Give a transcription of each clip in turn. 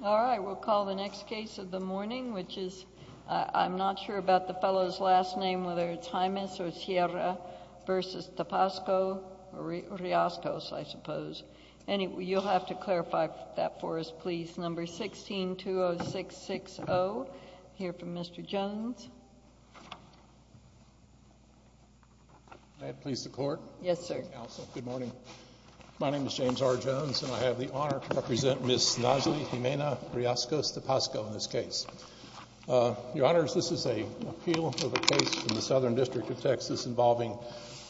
All right, we'll call the next case of the morning, which is, I'm not sure about the fellow's last name, whether it's Jaimes or Sierra versus Tapasco or Riascos, I suppose, and you'll have to clarify that for us, please, number 1620660, hear from Mr. Jones. And please, the court. Yes, sir. Good morning. My name is James R. Jones, and I have the honor to represent Miss Nasly Jimena Riascos Tapasco in this case. Your honors, this is a appeal of a case from the Southern District of Texas involving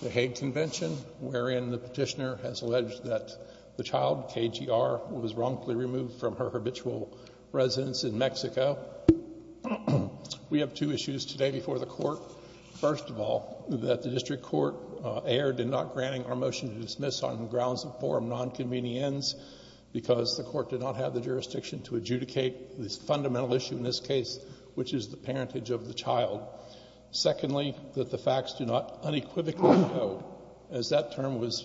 the Hague Convention, wherein the petitioner has alleged that the child KGR was wrongfully removed from her habitual residence in Mexico. We have two issues today before the court. First of all, that the district court erred in not granting our motion to dismiss on grounds of forum nonconvenience because the court did not have the jurisdiction to adjudicate this fundamental issue in this case, which is the parentage of the child. Secondly, that the facts do not unequivocally show, as that term was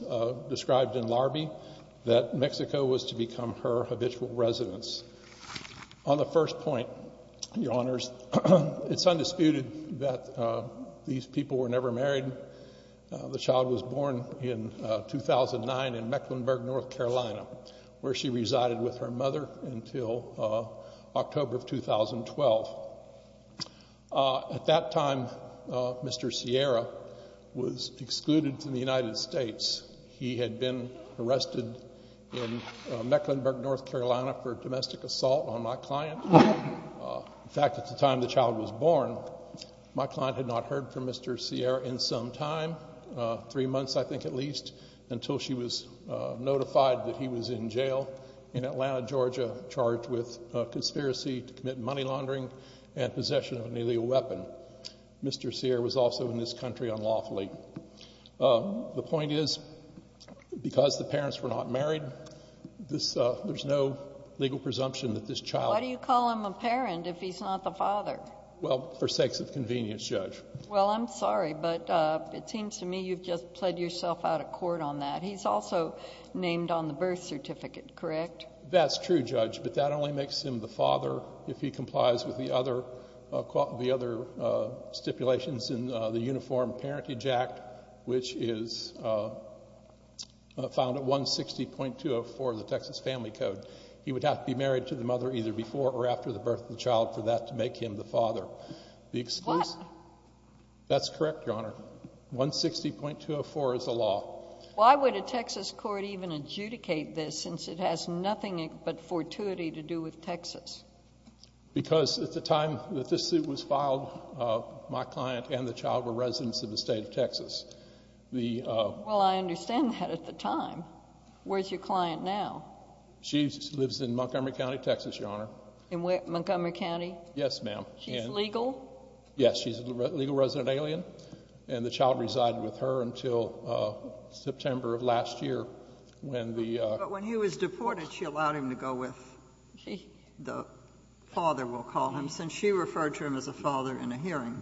described in Larbee, that Mexico was to become her habitual residence. On the first point, your honors, it's undisputed that these people were never married. The child was born in 2009 in Mecklenburg, North Carolina, where she resided with her mother until October of 2012. At that time, Mr. Sierra was excluded from the United States. He had been arrested in Mecklenburg, North Carolina, for domestic assault on my client. In fact, at the time the child was born, my client had not heard from Mr. Sierra in some time, three months I think at least, until she was notified that he was in jail in Atlanta, Georgia, charged with conspiracy to commit money laundering and possession of an illegal weapon. Mr. Sierra was also in this country unlawfully. The point is, because the parents were not married, there's no legal presumption that this child was not married. Why do you call him a parent if he's not the father? Well, for sakes of convenience, Judge. Well, I'm sorry, but it seems to me you've just pled yourself out of court on that. He's also named on the birth certificate, correct? That's true, Judge, but that only makes him the father if he complies with the other stipulations in the Uniform Parentage Act, which is found at 160.204 of the Texas Family Code. He would have to be married to the mother either before or after the birth of the child for that to make him the father. What? That's correct, Your Honor. 160.204 is the law. Why would a Texas court even adjudicate this since it has nothing but fortuity to do with Texas? Because at the time that this suit was filed, my client and the child were residents of the state of Texas. Well, I understand that at the time. Where's your client now? She lives in Montgomery County, Texas, Your Honor. In Montgomery County? Yes, ma'am. She's legal? Yes, she's a legal resident alien, and the child resided with her until September of last year when the — But when he was deported, she allowed him to go with the father, we'll call him, since she referred to him as a father in a hearing.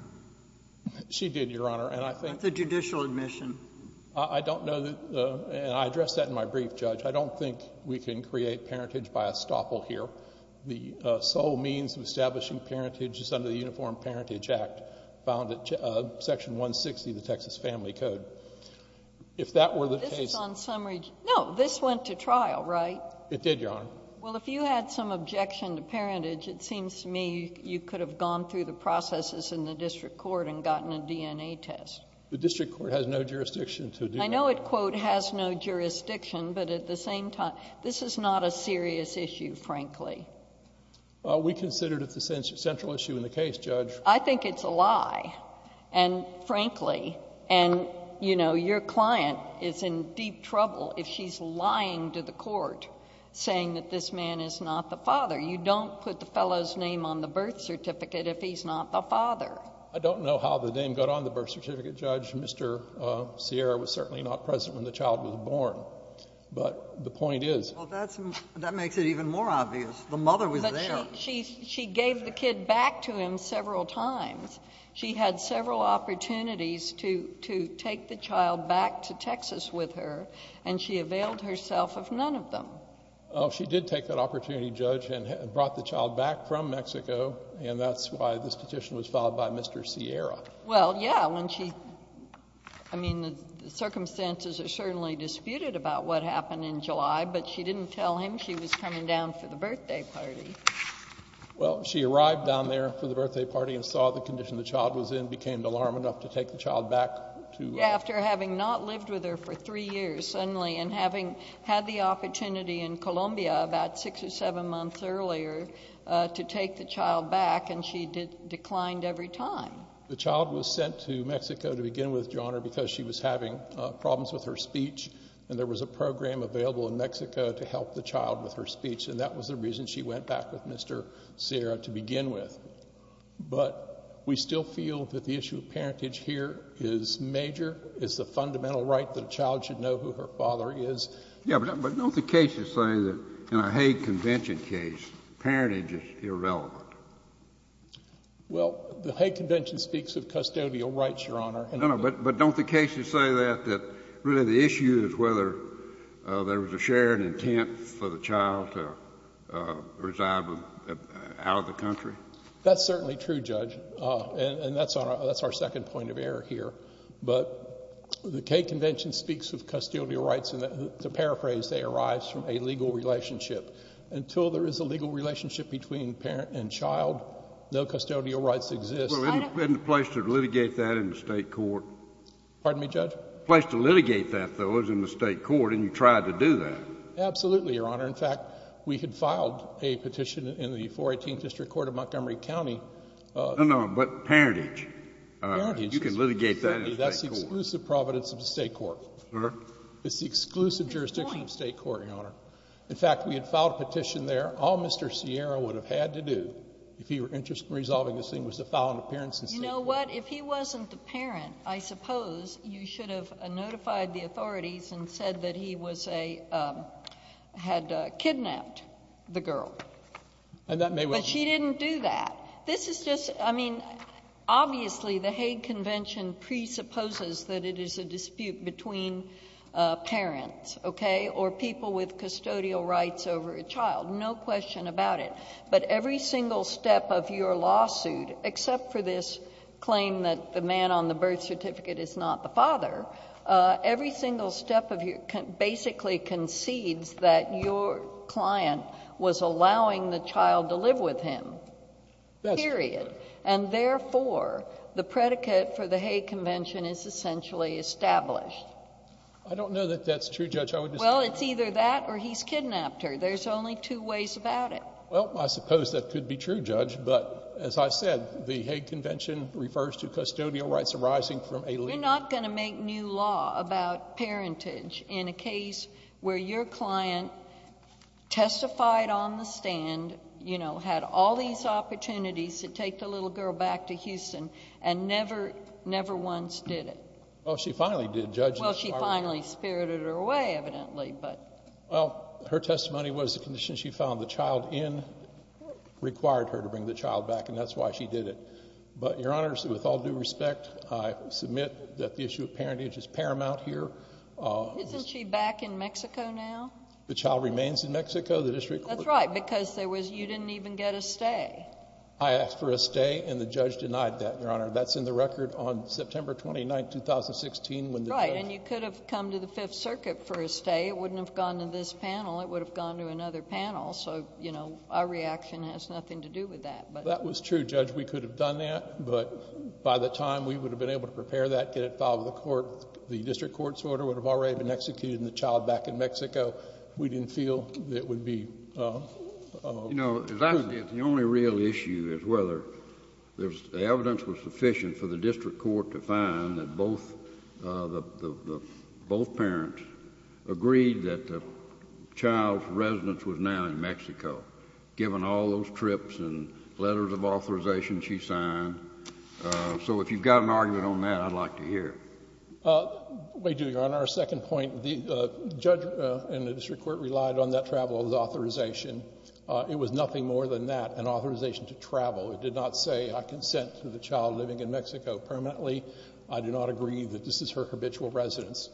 She did, Your Honor, and I think — With a judicial admission. I don't know that — and I addressed that in my brief, Judge. I don't think we can create parentage by estoppel here. The sole means of establishing parentage is under the Uniform Parentage Act, found at Section 160 of the Texas Family Code. If that were the case — This is on summary — no, this went to trial, right? It did, Your Honor. Well, if you had some objection to parentage, it seems to me you could have gone through the processes in the district court and gotten a DNA test. The district court has no jurisdiction to do that. I know it, quote, has no jurisdiction, but at the same time, this is not a serious issue, frankly. We consider it the central issue in the case, Judge. I think it's a lie, and frankly, and, you know, your client is in deep trouble if she's lying to the court, saying that this man is not the father. You don't put the fellow's name on the birth certificate if he's not the father. I don't know how the name got on the birth certificate, Judge. Mr. Sierra was certainly not present when the child was born. But the point is — Well, that makes it even more obvious. The mother was there. But she gave the kid back to him several times. She had several opportunities to take the child back to Texas with her, and she availed herself of none of them. Well, she did take that opportunity, Judge, and brought the child back from Mexico, and that's why this petition was filed by Mr. Sierra. Well, yeah, when she — I mean, the circumstances are certainly disputed about what happened in July, but she didn't tell him she was coming down for the birthday party. Well, she arrived down there for the birthday party and saw the condition the child was in, became alarmed enough to take the child back to — about six or seven months earlier to take the child back, and she declined every time. The child was sent to Mexico to begin with, Your Honor, because she was having problems with her speech, and there was a program available in Mexico to help the child with her speech, and that was the reason she went back with Mr. Sierra to begin with. But we still feel that the issue of parentage here is major. It's the fundamental right that a child should know who her father is. Yeah, but don't the cases say that in a Hague Convention case, parentage is irrelevant? Well, the Hague Convention speaks of custodial rights, Your Honor. No, no, but don't the cases say that, that really the issue is whether there was a shared intent for the child to reside out of the country? That's certainly true, Judge, and that's our second point of error here. But the Hague Convention speaks of custodial rights, and to paraphrase, they arise from a legal relationship. Until there is a legal relationship between parent and child, no custodial rights exist. Well, isn't there a place to litigate that in the state court? Pardon me, Judge? A place to litigate that, though, is in the state court, and you tried to do that. Absolutely, Your Honor. In fact, we had filed a petition in the 418th District Court of Montgomery County. No, no, but parentage. Parentage. You can litigate that in the state court. That's the exclusive providence of the state court. It's the exclusive jurisdiction of the state court, Your Honor. In fact, we had filed a petition there. All Mr. Sierra would have had to do, if he were interested in resolving this thing, was to file an appearance in the state court. You know what? If he wasn't the parent, I suppose you should have notified the authorities and said that he was a — had kidnapped the girl. And that may well be. But she didn't do that. This is just — I mean, obviously, the Hague Convention presupposes that it is a dispute between parents, okay, or people with custodial rights over a child. No question about it. But every single step of your lawsuit, except for this claim that the man on the birth certificate is not the father, every single step of your — basically concedes that your client was allowing the child to live with him. Period. And therefore, the predicate for the Hague Convention is essentially established. I don't know that that's true, Judge. I would just — Well, it's either that or he's kidnapped her. There's only two ways about it. Well, I suppose that could be true, Judge. But as I said, the Hague Convention refers to custodial rights arising from a legal — You're not going to make new law about parentage in a case where your client testified on the stand, you know, had all these opportunities to take the little girl back to Houston and never, never once did it. Well, she finally did, Judge. Well, she finally spirited her away, evidently, but — Well, her testimony was the condition she found the child in required her to bring the child back, and that's why she did it. But, Your Honor, with all due respect, I submit that the issue of parentage is paramount here. Isn't she back in Mexico now? The child remains in Mexico, the district court — That's right, because there was — you didn't even get a stay. I asked for a stay, and the judge denied that, Your Honor. That's in the record on September 29, 2016, when the judge — Right, and you could have come to the Fifth Circuit for a stay. It wouldn't have gone to this panel. It would have gone to another panel. So, you know, our reaction has nothing to do with that. That was true, Judge. We could have done that, but by the time we would have been able to prepare that, get it filed with the court, the district court's order would have already been executed and the child back in Mexico. We didn't feel it would be — You know, as I said, the only real issue is whether there's — the evidence was sufficient for the district court to find that both parents agreed that the child's residence was now in Mexico. Given all those trips and letters of authorization she signed. So if you've got an argument on that, I'd like to hear it. Wait, Your Honor, a second point. The judge and the district court relied on that travel as authorization. It was nothing more than that, an authorization to travel. It did not say, I consent to the child living in Mexico permanently. I do not agree that this is her habitual residence.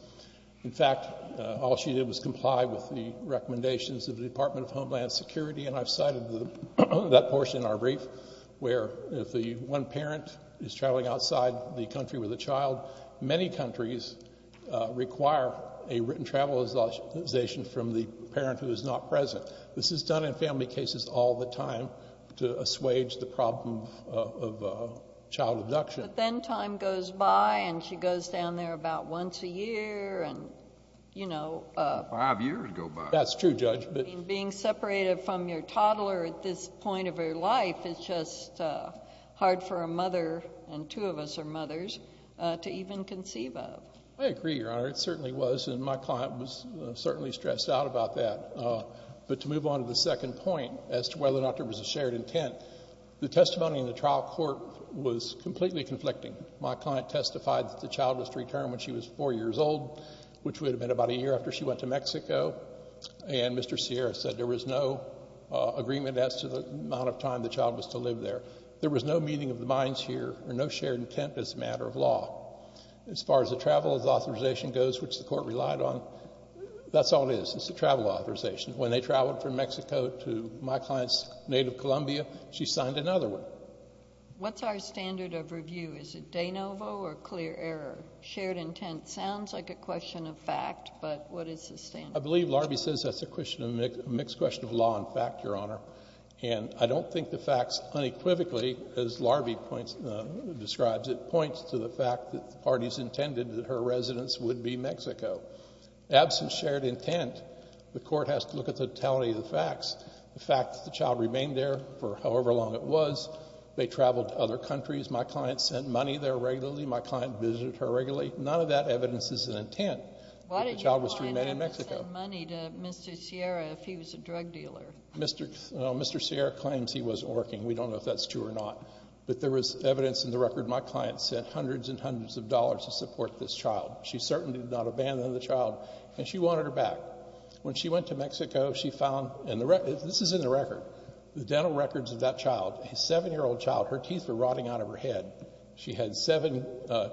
In fact, all she did was comply with the recommendations of the Department of Homeland Security and I've cited that portion in our brief where if the one parent is traveling outside the country with a child, many countries require a written travel authorization from the parent who is not present. This is done in family cases all the time to assuage the problem of child abduction. But then time goes by and she goes down there about once a year and, you know — That's true, Judge. Being separated from your toddler at this point of her life is just hard for a mother, and two of us are mothers, to even conceive of. I agree, Your Honor. It certainly was, and my client was certainly stressed out about that. But to move on to the second point as to whether or not there was a shared intent, the testimony in the trial court was completely conflicting. My client testified that the child was to return when she was four years old, which would have been about a year after she went to Mexico. And Mr. Sierra said there was no agreement as to the amount of time the child was to live there. There was no meeting of the minds here or no shared intent as a matter of law. As far as the travel authorization goes, which the court relied on, that's all it is. It's a travel authorization. When they traveled from Mexico to my client's native Colombia, she signed another one. What's our standard of review? Is it de novo or clear error? Shared intent sounds like a question of fact, but what is the standard? I believe Larbi says that's a question of mixed question of law and fact, Your Honor. And I don't think the facts unequivocally, as Larbi points, describes, it points to the fact that the parties intended that her residence would be Mexico. Absent shared intent, the court has to look at the totality of the facts, the fact that the child remained there for however long it was. They traveled to other countries. My client sent money there regularly. My client visited her regularly. None of that evidence is an intent that the child was to remain in Mexico. Why did you find him to send money to Mr. Sierra if he was a drug dealer? Mr. Sierra claims he wasn't working. We don't know if that's true or not. But there was evidence in the record. My client sent hundreds and hundreds of dollars to support this child. She certainly did not abandon the child. And she wanted her back. When she went to Mexico, she found in the record, this is in the record, the dental records of that child, a 7-year-old child. Her teeth were rotting out of her head. She had seven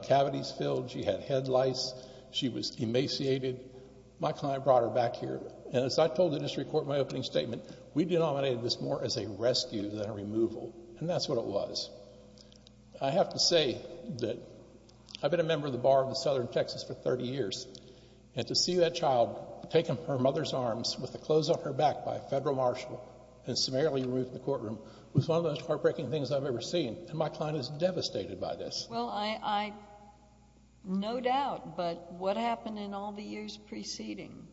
cavities filled. She had head lice. She was emaciated. My client brought her back here. And as I told the district court in my opening statement, we denominated this more as a rescue than a removal. And that's what it was. I have to say that I've been a member of the Bar of Southern Texas for 30 years. And to see that child taken from her mother's arms with the clothes on her back by a federal marshal and summarily removed from the courtroom was one of the most heartbreaking things I've ever seen. And my client is devastated by this. Well, no doubt. But what happened in all the years preceding?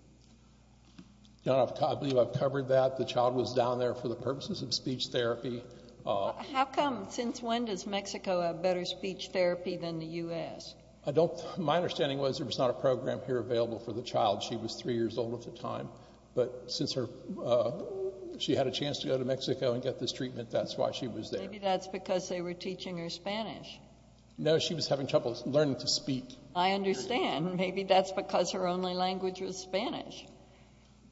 I believe I've covered that. The child was down there for the purposes of speech therapy. How come? Since when does Mexico have better speech therapy than the U.S.? My understanding was there was not a program here available for the child. She was 3 years old at the time. But since she had a chance to go to Mexico and get this treatment, that's why she was there. Maybe that's because they were teaching her Spanish. No, she was having trouble learning to speak. I understand. Maybe that's because her only language was Spanish.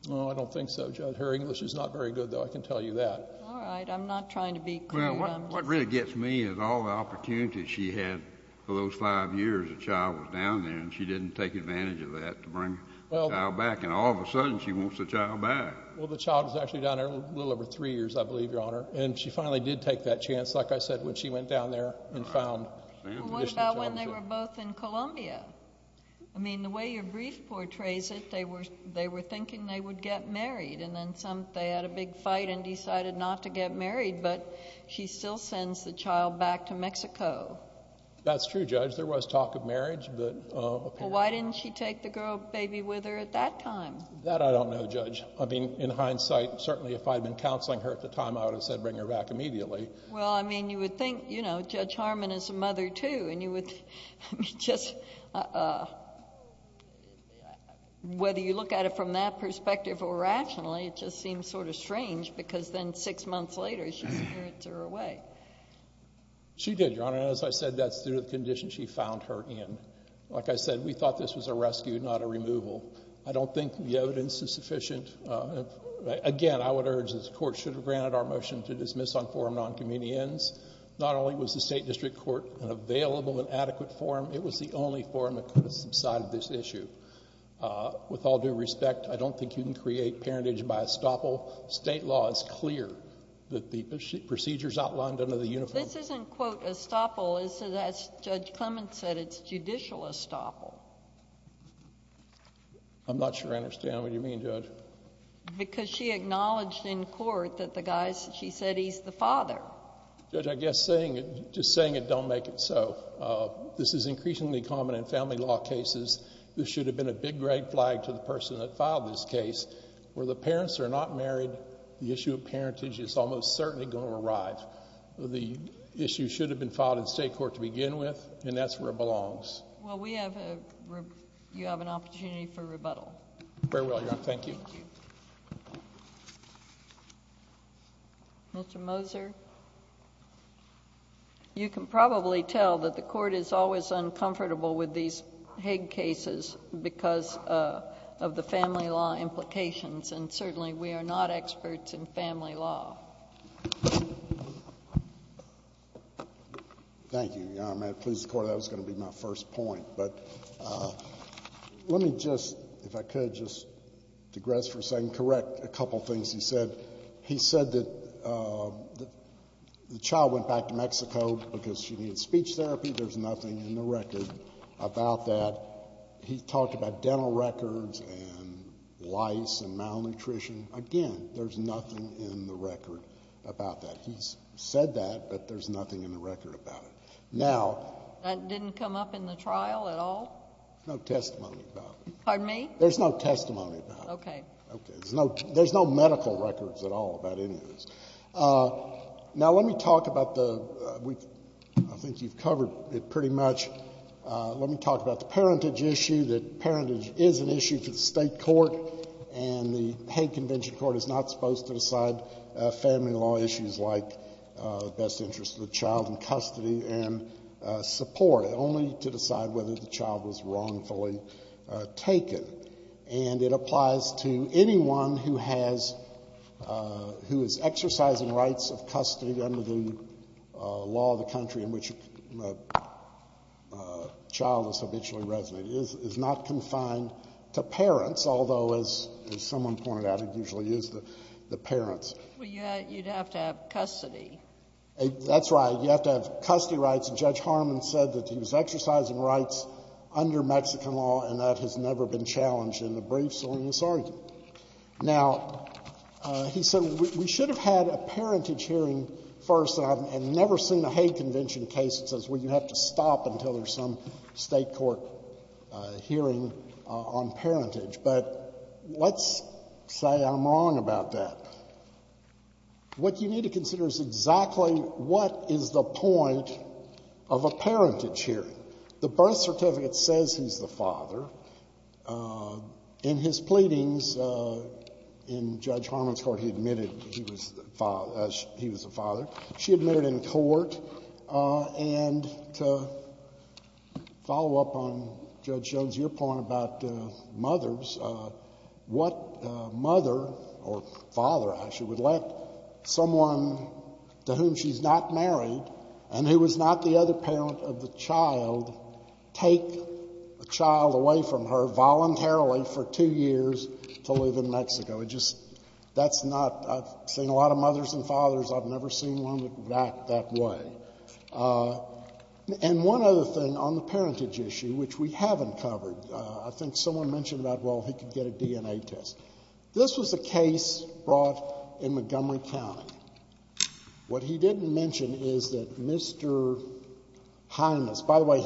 No, I don't think so, Judge. Her English is not very good, though, I can tell you that. All right. I'm not trying to be crude. What really gets me is all the opportunities she had. For those 5 years, the child was down there, and she didn't take advantage of that to bring the child back. And all of a sudden, she wants the child back. Well, the child was actually down there a little over 3 years, I believe, Your Honor. And she finally did take that chance, like I said, when she went down there and found additional child support. But what about when they were both in Colombia? I mean, the way your brief portrays it, they were thinking they would get married. And then they had a big fight and decided not to get married, but she still sends the child back to Mexico. That's true, Judge. There was talk of marriage, but apparently not. Well, why didn't she take the girl baby with her at that time? That I don't know, Judge. I mean, in hindsight, certainly if I had been counseling her at the time, I would have said bring her back immediately. Well, I mean, you would think, you know, Judge Harmon is a mother, too, and you would just, whether you look at it from that perspective or rationally, it just seems sort of strange because then 6 months later, she spirits her away. She did, Your Honor, and as I said, that's due to the condition she found her in. Like I said, we thought this was a rescue, not a removal. I don't think the evidence is sufficient. Again, I would urge that the Court should have granted our motion to dismiss on forum non-communiens. Not only was the State District Court an available and adequate forum, it was the only forum that could have subsided this issue. With all due respect, I don't think you can create parentage by estoppel. State law is clear that the procedures outlined under the uniform. This isn't, quote, estoppel. As Judge Clements said, it's judicial estoppel. I'm not sure I understand what you mean, Judge. Because she acknowledged in court that the guy, she said, he's the father. Judge, I guess just saying it don't make it so. This is increasingly common in family law cases. This should have been a big red flag to the person that filed this case. Where the parents are not married, the issue of parentage is almost certainly going to arrive. The issue should have been filed in state court to begin with, and that's where it belongs. Well, you have an opportunity for rebuttal. Very well, Your Honor. Thank you. Mr. Moser, you can probably tell that the court is always uncomfortable with these Hague cases because of the family law implications, and certainly we are not experts in family law. Thank you, Your Honor. That was going to be my first point. But let me just, if I could, just digress for a second, correct a couple things he said. He said that the child went back to Mexico because she needed speech therapy. There's nothing in the record about that. He talked about dental records and lice and malnutrition. Again, there's nothing in the record about that. He's said that, but there's nothing in the record about it. Now — That didn't come up in the trial at all? There's no testimony about it. Pardon me? There's no testimony about it. Okay. Okay. There's no medical records at all about any of this. Now, let me talk about the — I think you've covered it pretty much. Let me talk about the parentage issue, that parentage is an issue for the state court, and the Hague Convention Court is not supposed to decide family law issues like the best friend support, only to decide whether the child was wrongfully taken. And it applies to anyone who has — who is exercising rights of custody under the law of the country in which a child is habitually residing. It is not confined to parents, although, as someone pointed out, it usually is the parents. Well, you'd have to have custody. That's right. You have to have custody rights. And Judge Harmon said that he was exercising rights under Mexican law, and that has never been challenged in the brief salience argument. Now, he said we should have had a parentage hearing first, and I've never seen a Hague Convention case that says, well, you have to stop until there's some State court hearing on parentage. But let's say I'm wrong about that. What you need to consider is exactly what is the point of a parentage hearing. The birth certificate says he's the father. In his pleadings in Judge Harmon's court, he admitted he was the father. She admitted in court. And to follow up on Judge Jones, your point about mothers, what mother or father is, she would let someone to whom she's not married and who is not the other parent of the child take the child away from her voluntarily for two years to live in Mexico. It just — that's not — I've seen a lot of mothers and fathers. I've never seen one that would act that way. And one other thing on the parentage issue, which we haven't covered, I think someone mentioned about, well, he could get a DNA test. This was a case brought in Montgomery County. What he didn't mention is that Mr. Jaimes — by the way,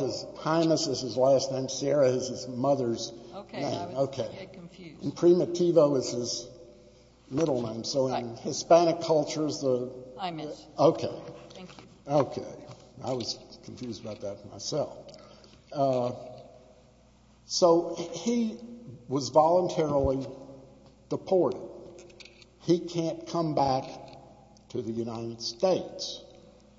Jaimes is his last name. Sierra is his mother's name. Okay. And Primitivo is his middle name. So in Hispanic cultures, the — Jaimes. Okay. Thank you. Okay. I was confused about that myself. So he was voluntarily deported. He can't come back to the United States.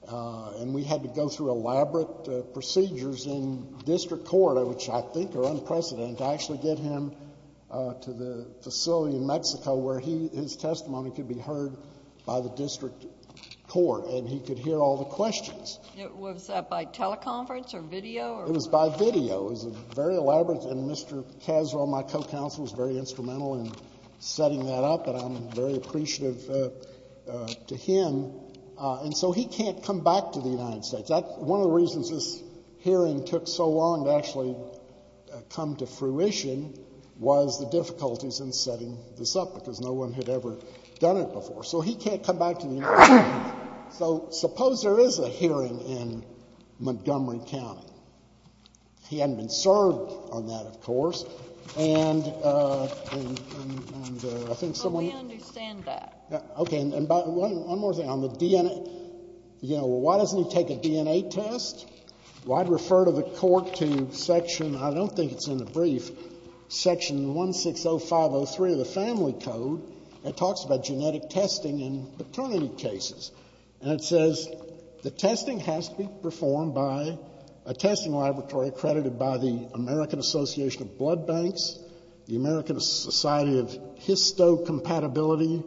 And we had to go through elaborate procedures in district court, which I think are unprecedented, to actually get him to the facility in Mexico where he — his testimony could be heard by the district court, and he could hear all the questions. Was that by teleconference or video? It was by video. It was very elaborate. And Mr. Caswell, my co-counsel, was very instrumental in setting that up, and I'm very appreciative to him. And so he can't come back to the United States. One of the reasons this hearing took so long to actually come to fruition was the difficulties in setting this up, because no one had ever done it before. So he can't come back to the United States. So suppose there is a hearing in Montgomery County. He hadn't been served on that, of course. And I think someone — But we understand that. Okay. And one more thing. On the DNA — you know, why doesn't he take a DNA test? I'd refer to the court to Section — I don't think it's in the brief — Section 160503 of the Family Code. It talks about genetic testing in paternity cases. And it says the testing has to be performed by a testing laboratory accredited by the American Association of Blood Banks, the American Society of Histocompatibility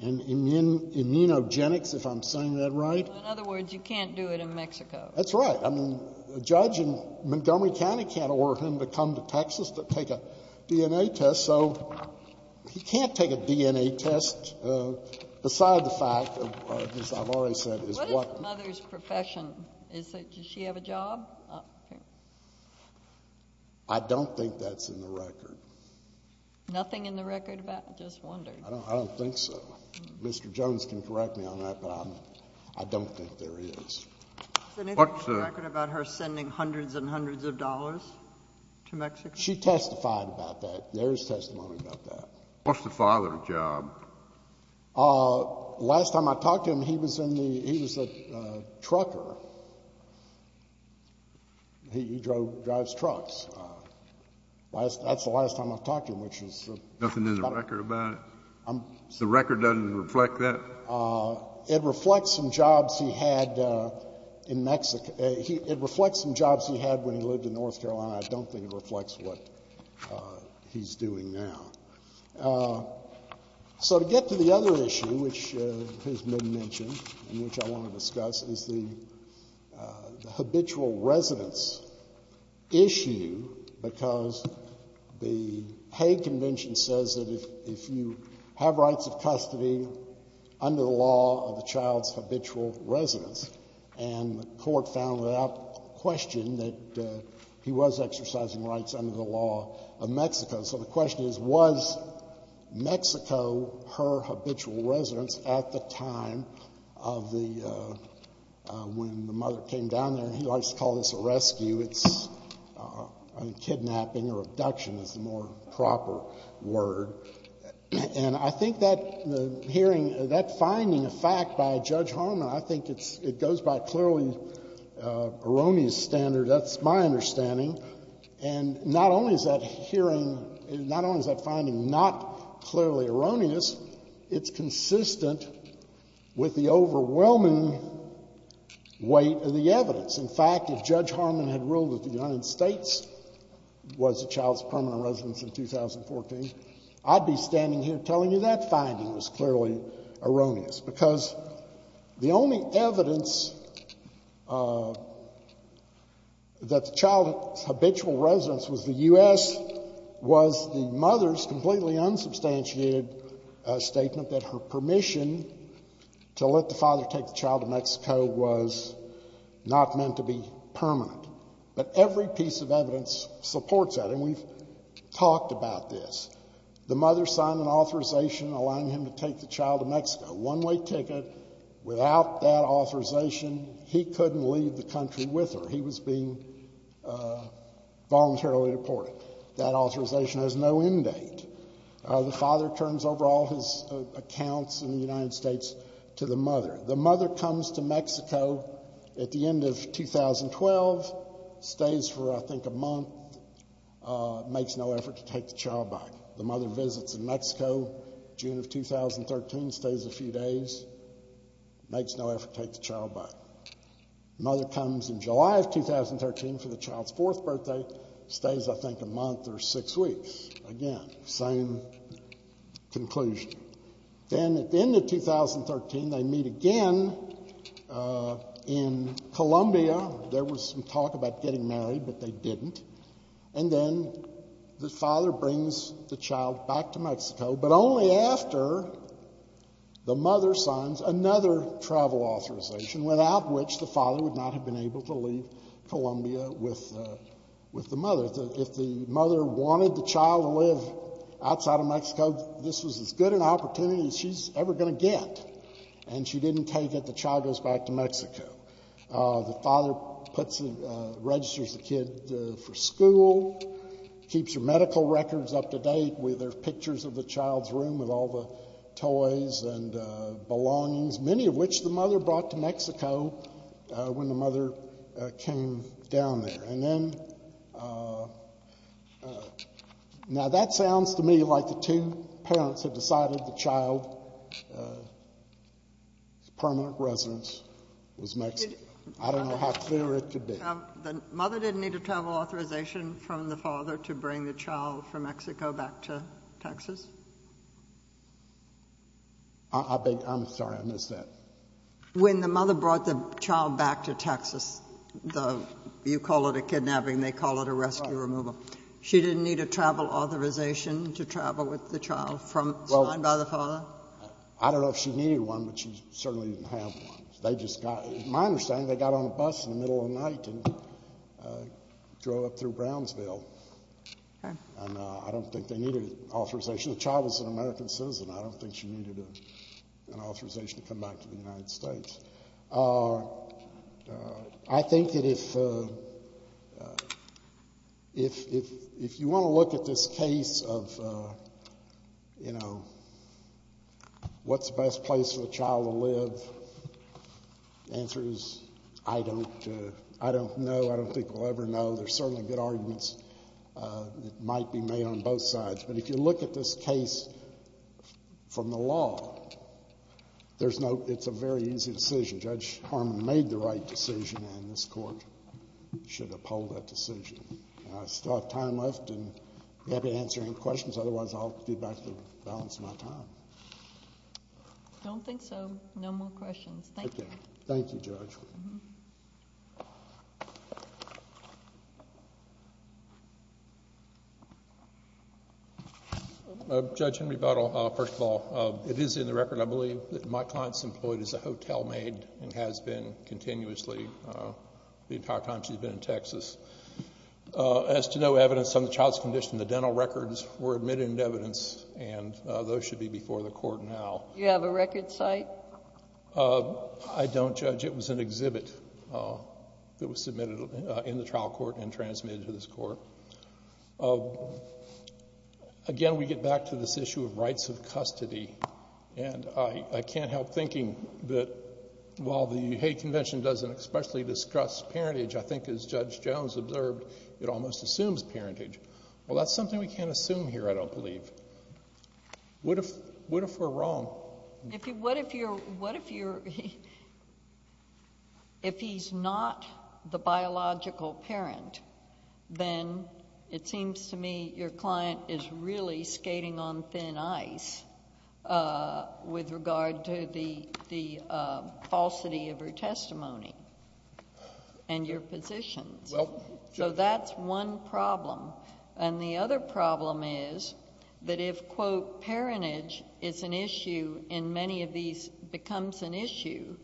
and Immunogenics, if I'm saying that right. In other words, you can't do it in Mexico. That's right. I mean, a judge in Montgomery County can't order him to come to Texas to take a DNA test. So he can't take a DNA test beside the fact, as I've already said, is what — What is the mother's profession? Does she have a job? I don't think that's in the record. Nothing in the record about — I'm just wondering. I don't think so. Mr. Jones can correct me on that, but I don't think there is. Is anything in the record about her sending hundreds and hundreds of dollars to Mexico? She testified about that. There is testimony about that. What's the father's job? Last time I talked to him, he was in the — he was a trucker. He drove — drives trucks. That's the last time I talked to him, which is — Nothing in the record about it? The record doesn't reflect that? It reflects some jobs he had in Mexico. It reflects some jobs he had when he lived in North Carolina. I don't think it reflects what he's doing now. So to get to the other issue, which has been mentioned and which I want to discuss, is the habitual residence issue, because the Hague Convention says that if you have rights of custody under the law of the child's habitual residence, and the Court found without question that he was exercising rights under the law of Mexico. So the question is, was Mexico her habitual residence at the time of the — when the mother came down there? He likes to call this a rescue. It's — I mean, kidnapping or abduction is the more proper word. And I think that hearing — that finding of fact by Judge Harmon, I think it's — it goes by clearly Arroni's standard. That's my understanding. And not only is that hearing — not only is that finding not clearly Arroni's, it's consistent with the overwhelming weight of the evidence. In fact, if Judge Harmon had ruled that the United States was the child's permanent residence in 2014, I'd be standing here telling you that finding was clearly Arroni's. Because the only evidence that the child's habitual residence was the U.S. was the mother's completely unsubstantiated statement that her permission to let the father take the child to Mexico was not meant to be permanent. But every piece of evidence supports that, and we've talked about this. The mother signed an authorization allowing him to take the child to Mexico. One-way ticket. Without that authorization, he couldn't leave the country with her. He was being voluntarily deported. That authorization has no end date. The father turns over all his accounts in the United States to the mother. The mother comes to Mexico at the end of 2012, stays for, I think, a month, makes no effort to take the child back. The mother visits in Mexico, June of 2013, stays a few days, makes no effort to take the child back. The mother comes in July of 2013 for the child's fourth birthday, stays, I think, a month or six weeks. Again, same conclusion. Then at the end of 2013, they meet again in Colombia. There was some talk about getting married, but they didn't. And then the father brings the child back to Mexico, but only after the mother signs another travel authorization, without which the father would not have been able to leave Colombia with the mother. If the mother wanted the child to live outside of Mexico, this was as good an opportunity as she's ever going to get. And she didn't take it. The child goes back to Mexico. The father registers the kid for school, keeps her medical records up to date with her pictures of the child's room with all the toys and belongings, many of which the mother brought to Mexico when the mother came down there. And then, now, that sounds to me like the two parents have decided the child's permanent residence was Mexico. I don't know how clear it could be. Mother didn't need a travel authorization from the father to bring the child from Mexico back to Texas? I'm sorry. I missed that. When the mother brought the child back to Texas, you call it a kidnapping, they call it a rescue removal. She didn't need a travel authorization to travel with the child signed by the father? Well, I don't know if she needed one, but she certainly didn't have one. They just got — to my understanding, they got on a bus in the middle of the night and drove up through Brownsville. Okay. And I don't think they needed an authorization. The child was an American citizen. I don't think she needed an authorization to come back to the United States. I think that if you want to look at this case of, you know, what's the best place for the child to live, the answer is I don't know. I don't think we'll ever know. There are certainly good arguments that might be made on both sides. But if you look at this case from the law, there's no — it's a very easy decision. Judge Harmon made the right decision, and this Court should uphold that decision. I still have time left, and I'd be happy to answer any questions. Otherwise, I'll be back to balance my time. I don't think so. Thank you. Thank you, Judge. Judge Henry Buttle, first of all, it is in the record, I believe, that my client is employed as a hotel maid and has been continuously the entire time she's been in Texas. As to no evidence on the child's condition, the dental records were admitted into evidence, and those should be before the Court now. Do you have a record cite? I don't, Judge. It was an exhibit that was submitted in the trial court and transmitted to this Court. Again, we get back to this issue of rights of custody, and I can't help thinking that while the Hague Convention doesn't especially discuss parentage, I think as Judge Jones observed, it almost assumes parentage. Well, that's something we can't assume here, I don't believe. What if we're wrong? What if you're... If he's not the biological parent, then it seems to me your client is really skating on thin ice with regard to the falsity of her testimony and your positions. Well... So that's one problem. And the other problem is that if, quote, parentage is an issue in many of these becomes an issue,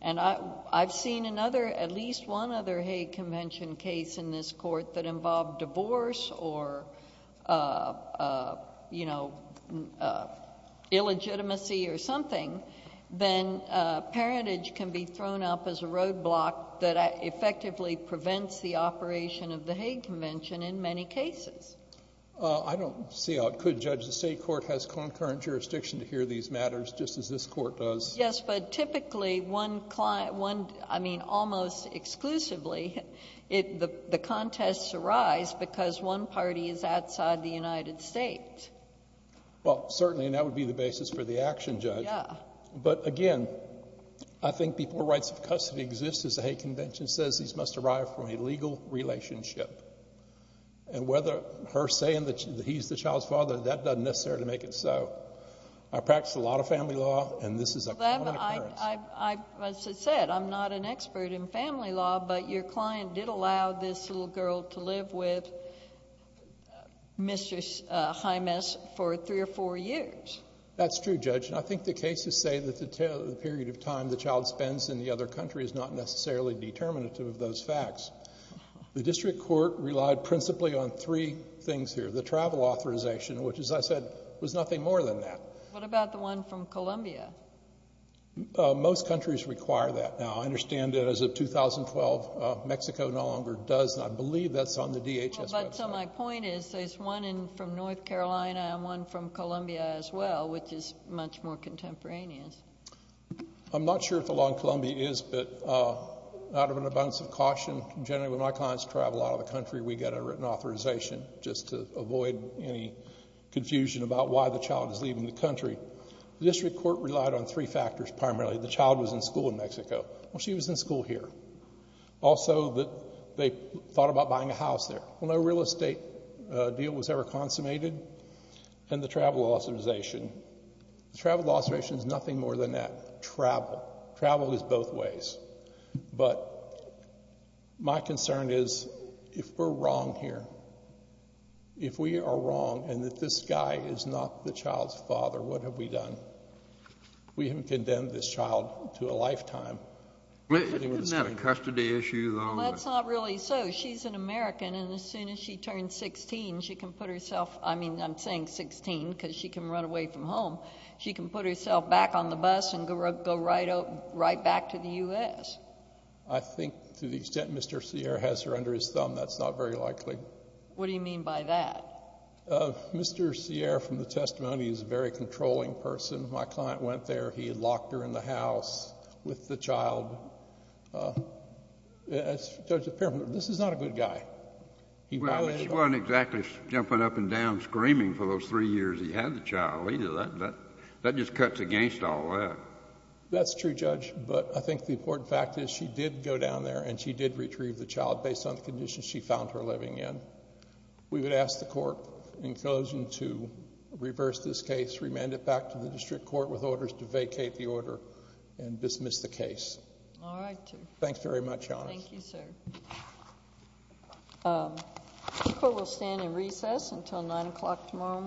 and I've seen another, at least one other Hague Convention case in this Court that involved divorce or, you know, illegitimacy or something, then parentage can be thrown up as a roadblock that effectively prevents the operation of the Hague Convention in many cases. I don't see how it could, Judge. The State court has concurrent jurisdiction to hear these matters, just as this Court does. Yes, but typically one client, one, I mean, almost exclusively, the contests arise because one party is outside the United States. Well, certainly, and that would be the basis for the action, Judge. Yeah. But again, I think people's rights of custody exist as the Hague Convention says. These must arrive from a legal relationship. And whether her saying that he's the child's father, that doesn't necessarily make it so. I practice a lot of family law, and this is a common occurrence. As I said, I'm not an expert in family law, but your client did allow this little girl to live with Mr. Jimes for three or four years. That's true, Judge. And I think the cases say that the period of time the child spends in the other country is not necessarily determinative of those facts. The district court relied principally on three things here, the travel authorization, which, as I said, was nothing more than that. What about the one from Columbia? Most countries require that now. I understand that as of 2012, Mexico no longer does, and I believe that's on the DHS website. But so my point is there's one from North Carolina and one from Columbia as well, which is much more contemporaneous. I'm not sure if the law in Columbia is, but out of an abundance of caution, generally when my clients travel out of the country, we get a written authorization just to avoid any confusion about why the child is leaving the country. The district court relied on three factors primarily. The child was in school in Mexico. Well, she was in school here. Also, they thought about buying a house there. Well, no real estate deal was ever consummated. And the travel authorization. The travel authorization is nothing more than that, travel. Travel is both ways. But my concern is if we're wrong here, if we are wrong, and that this guy is not the child's father, what have we done? We have condemned this child to a lifetime. Isn't that a custody issue? Well, that's not really so. She's an American, and as soon as she turns 16, she can put herself, I mean I'm saying 16 because she can run away from home, she can put herself back on the bus and go right back to the U.S. I think to the extent Mr. Sierra has her under his thumb, that's not very likely. What do you mean by that? Mr. Sierra, from the testimony, is a very controlling person. My client went there. He had locked her in the house with the child. This is not a good guy. Well, she wasn't exactly jumping up and down screaming for those three years he had the child. That just cuts against all that. That's true, Judge. But I think the important fact is she did go down there and she did retrieve the child based on the conditions she found her living in. We would ask the Court in closing to reverse this case, remand it back to the district court with orders to vacate the order and dismiss the case. All right, Judge. Thanks very much, Your Honor. Thank you, sir. The Court will stand in recess until 9 o'clock tomorrow morning.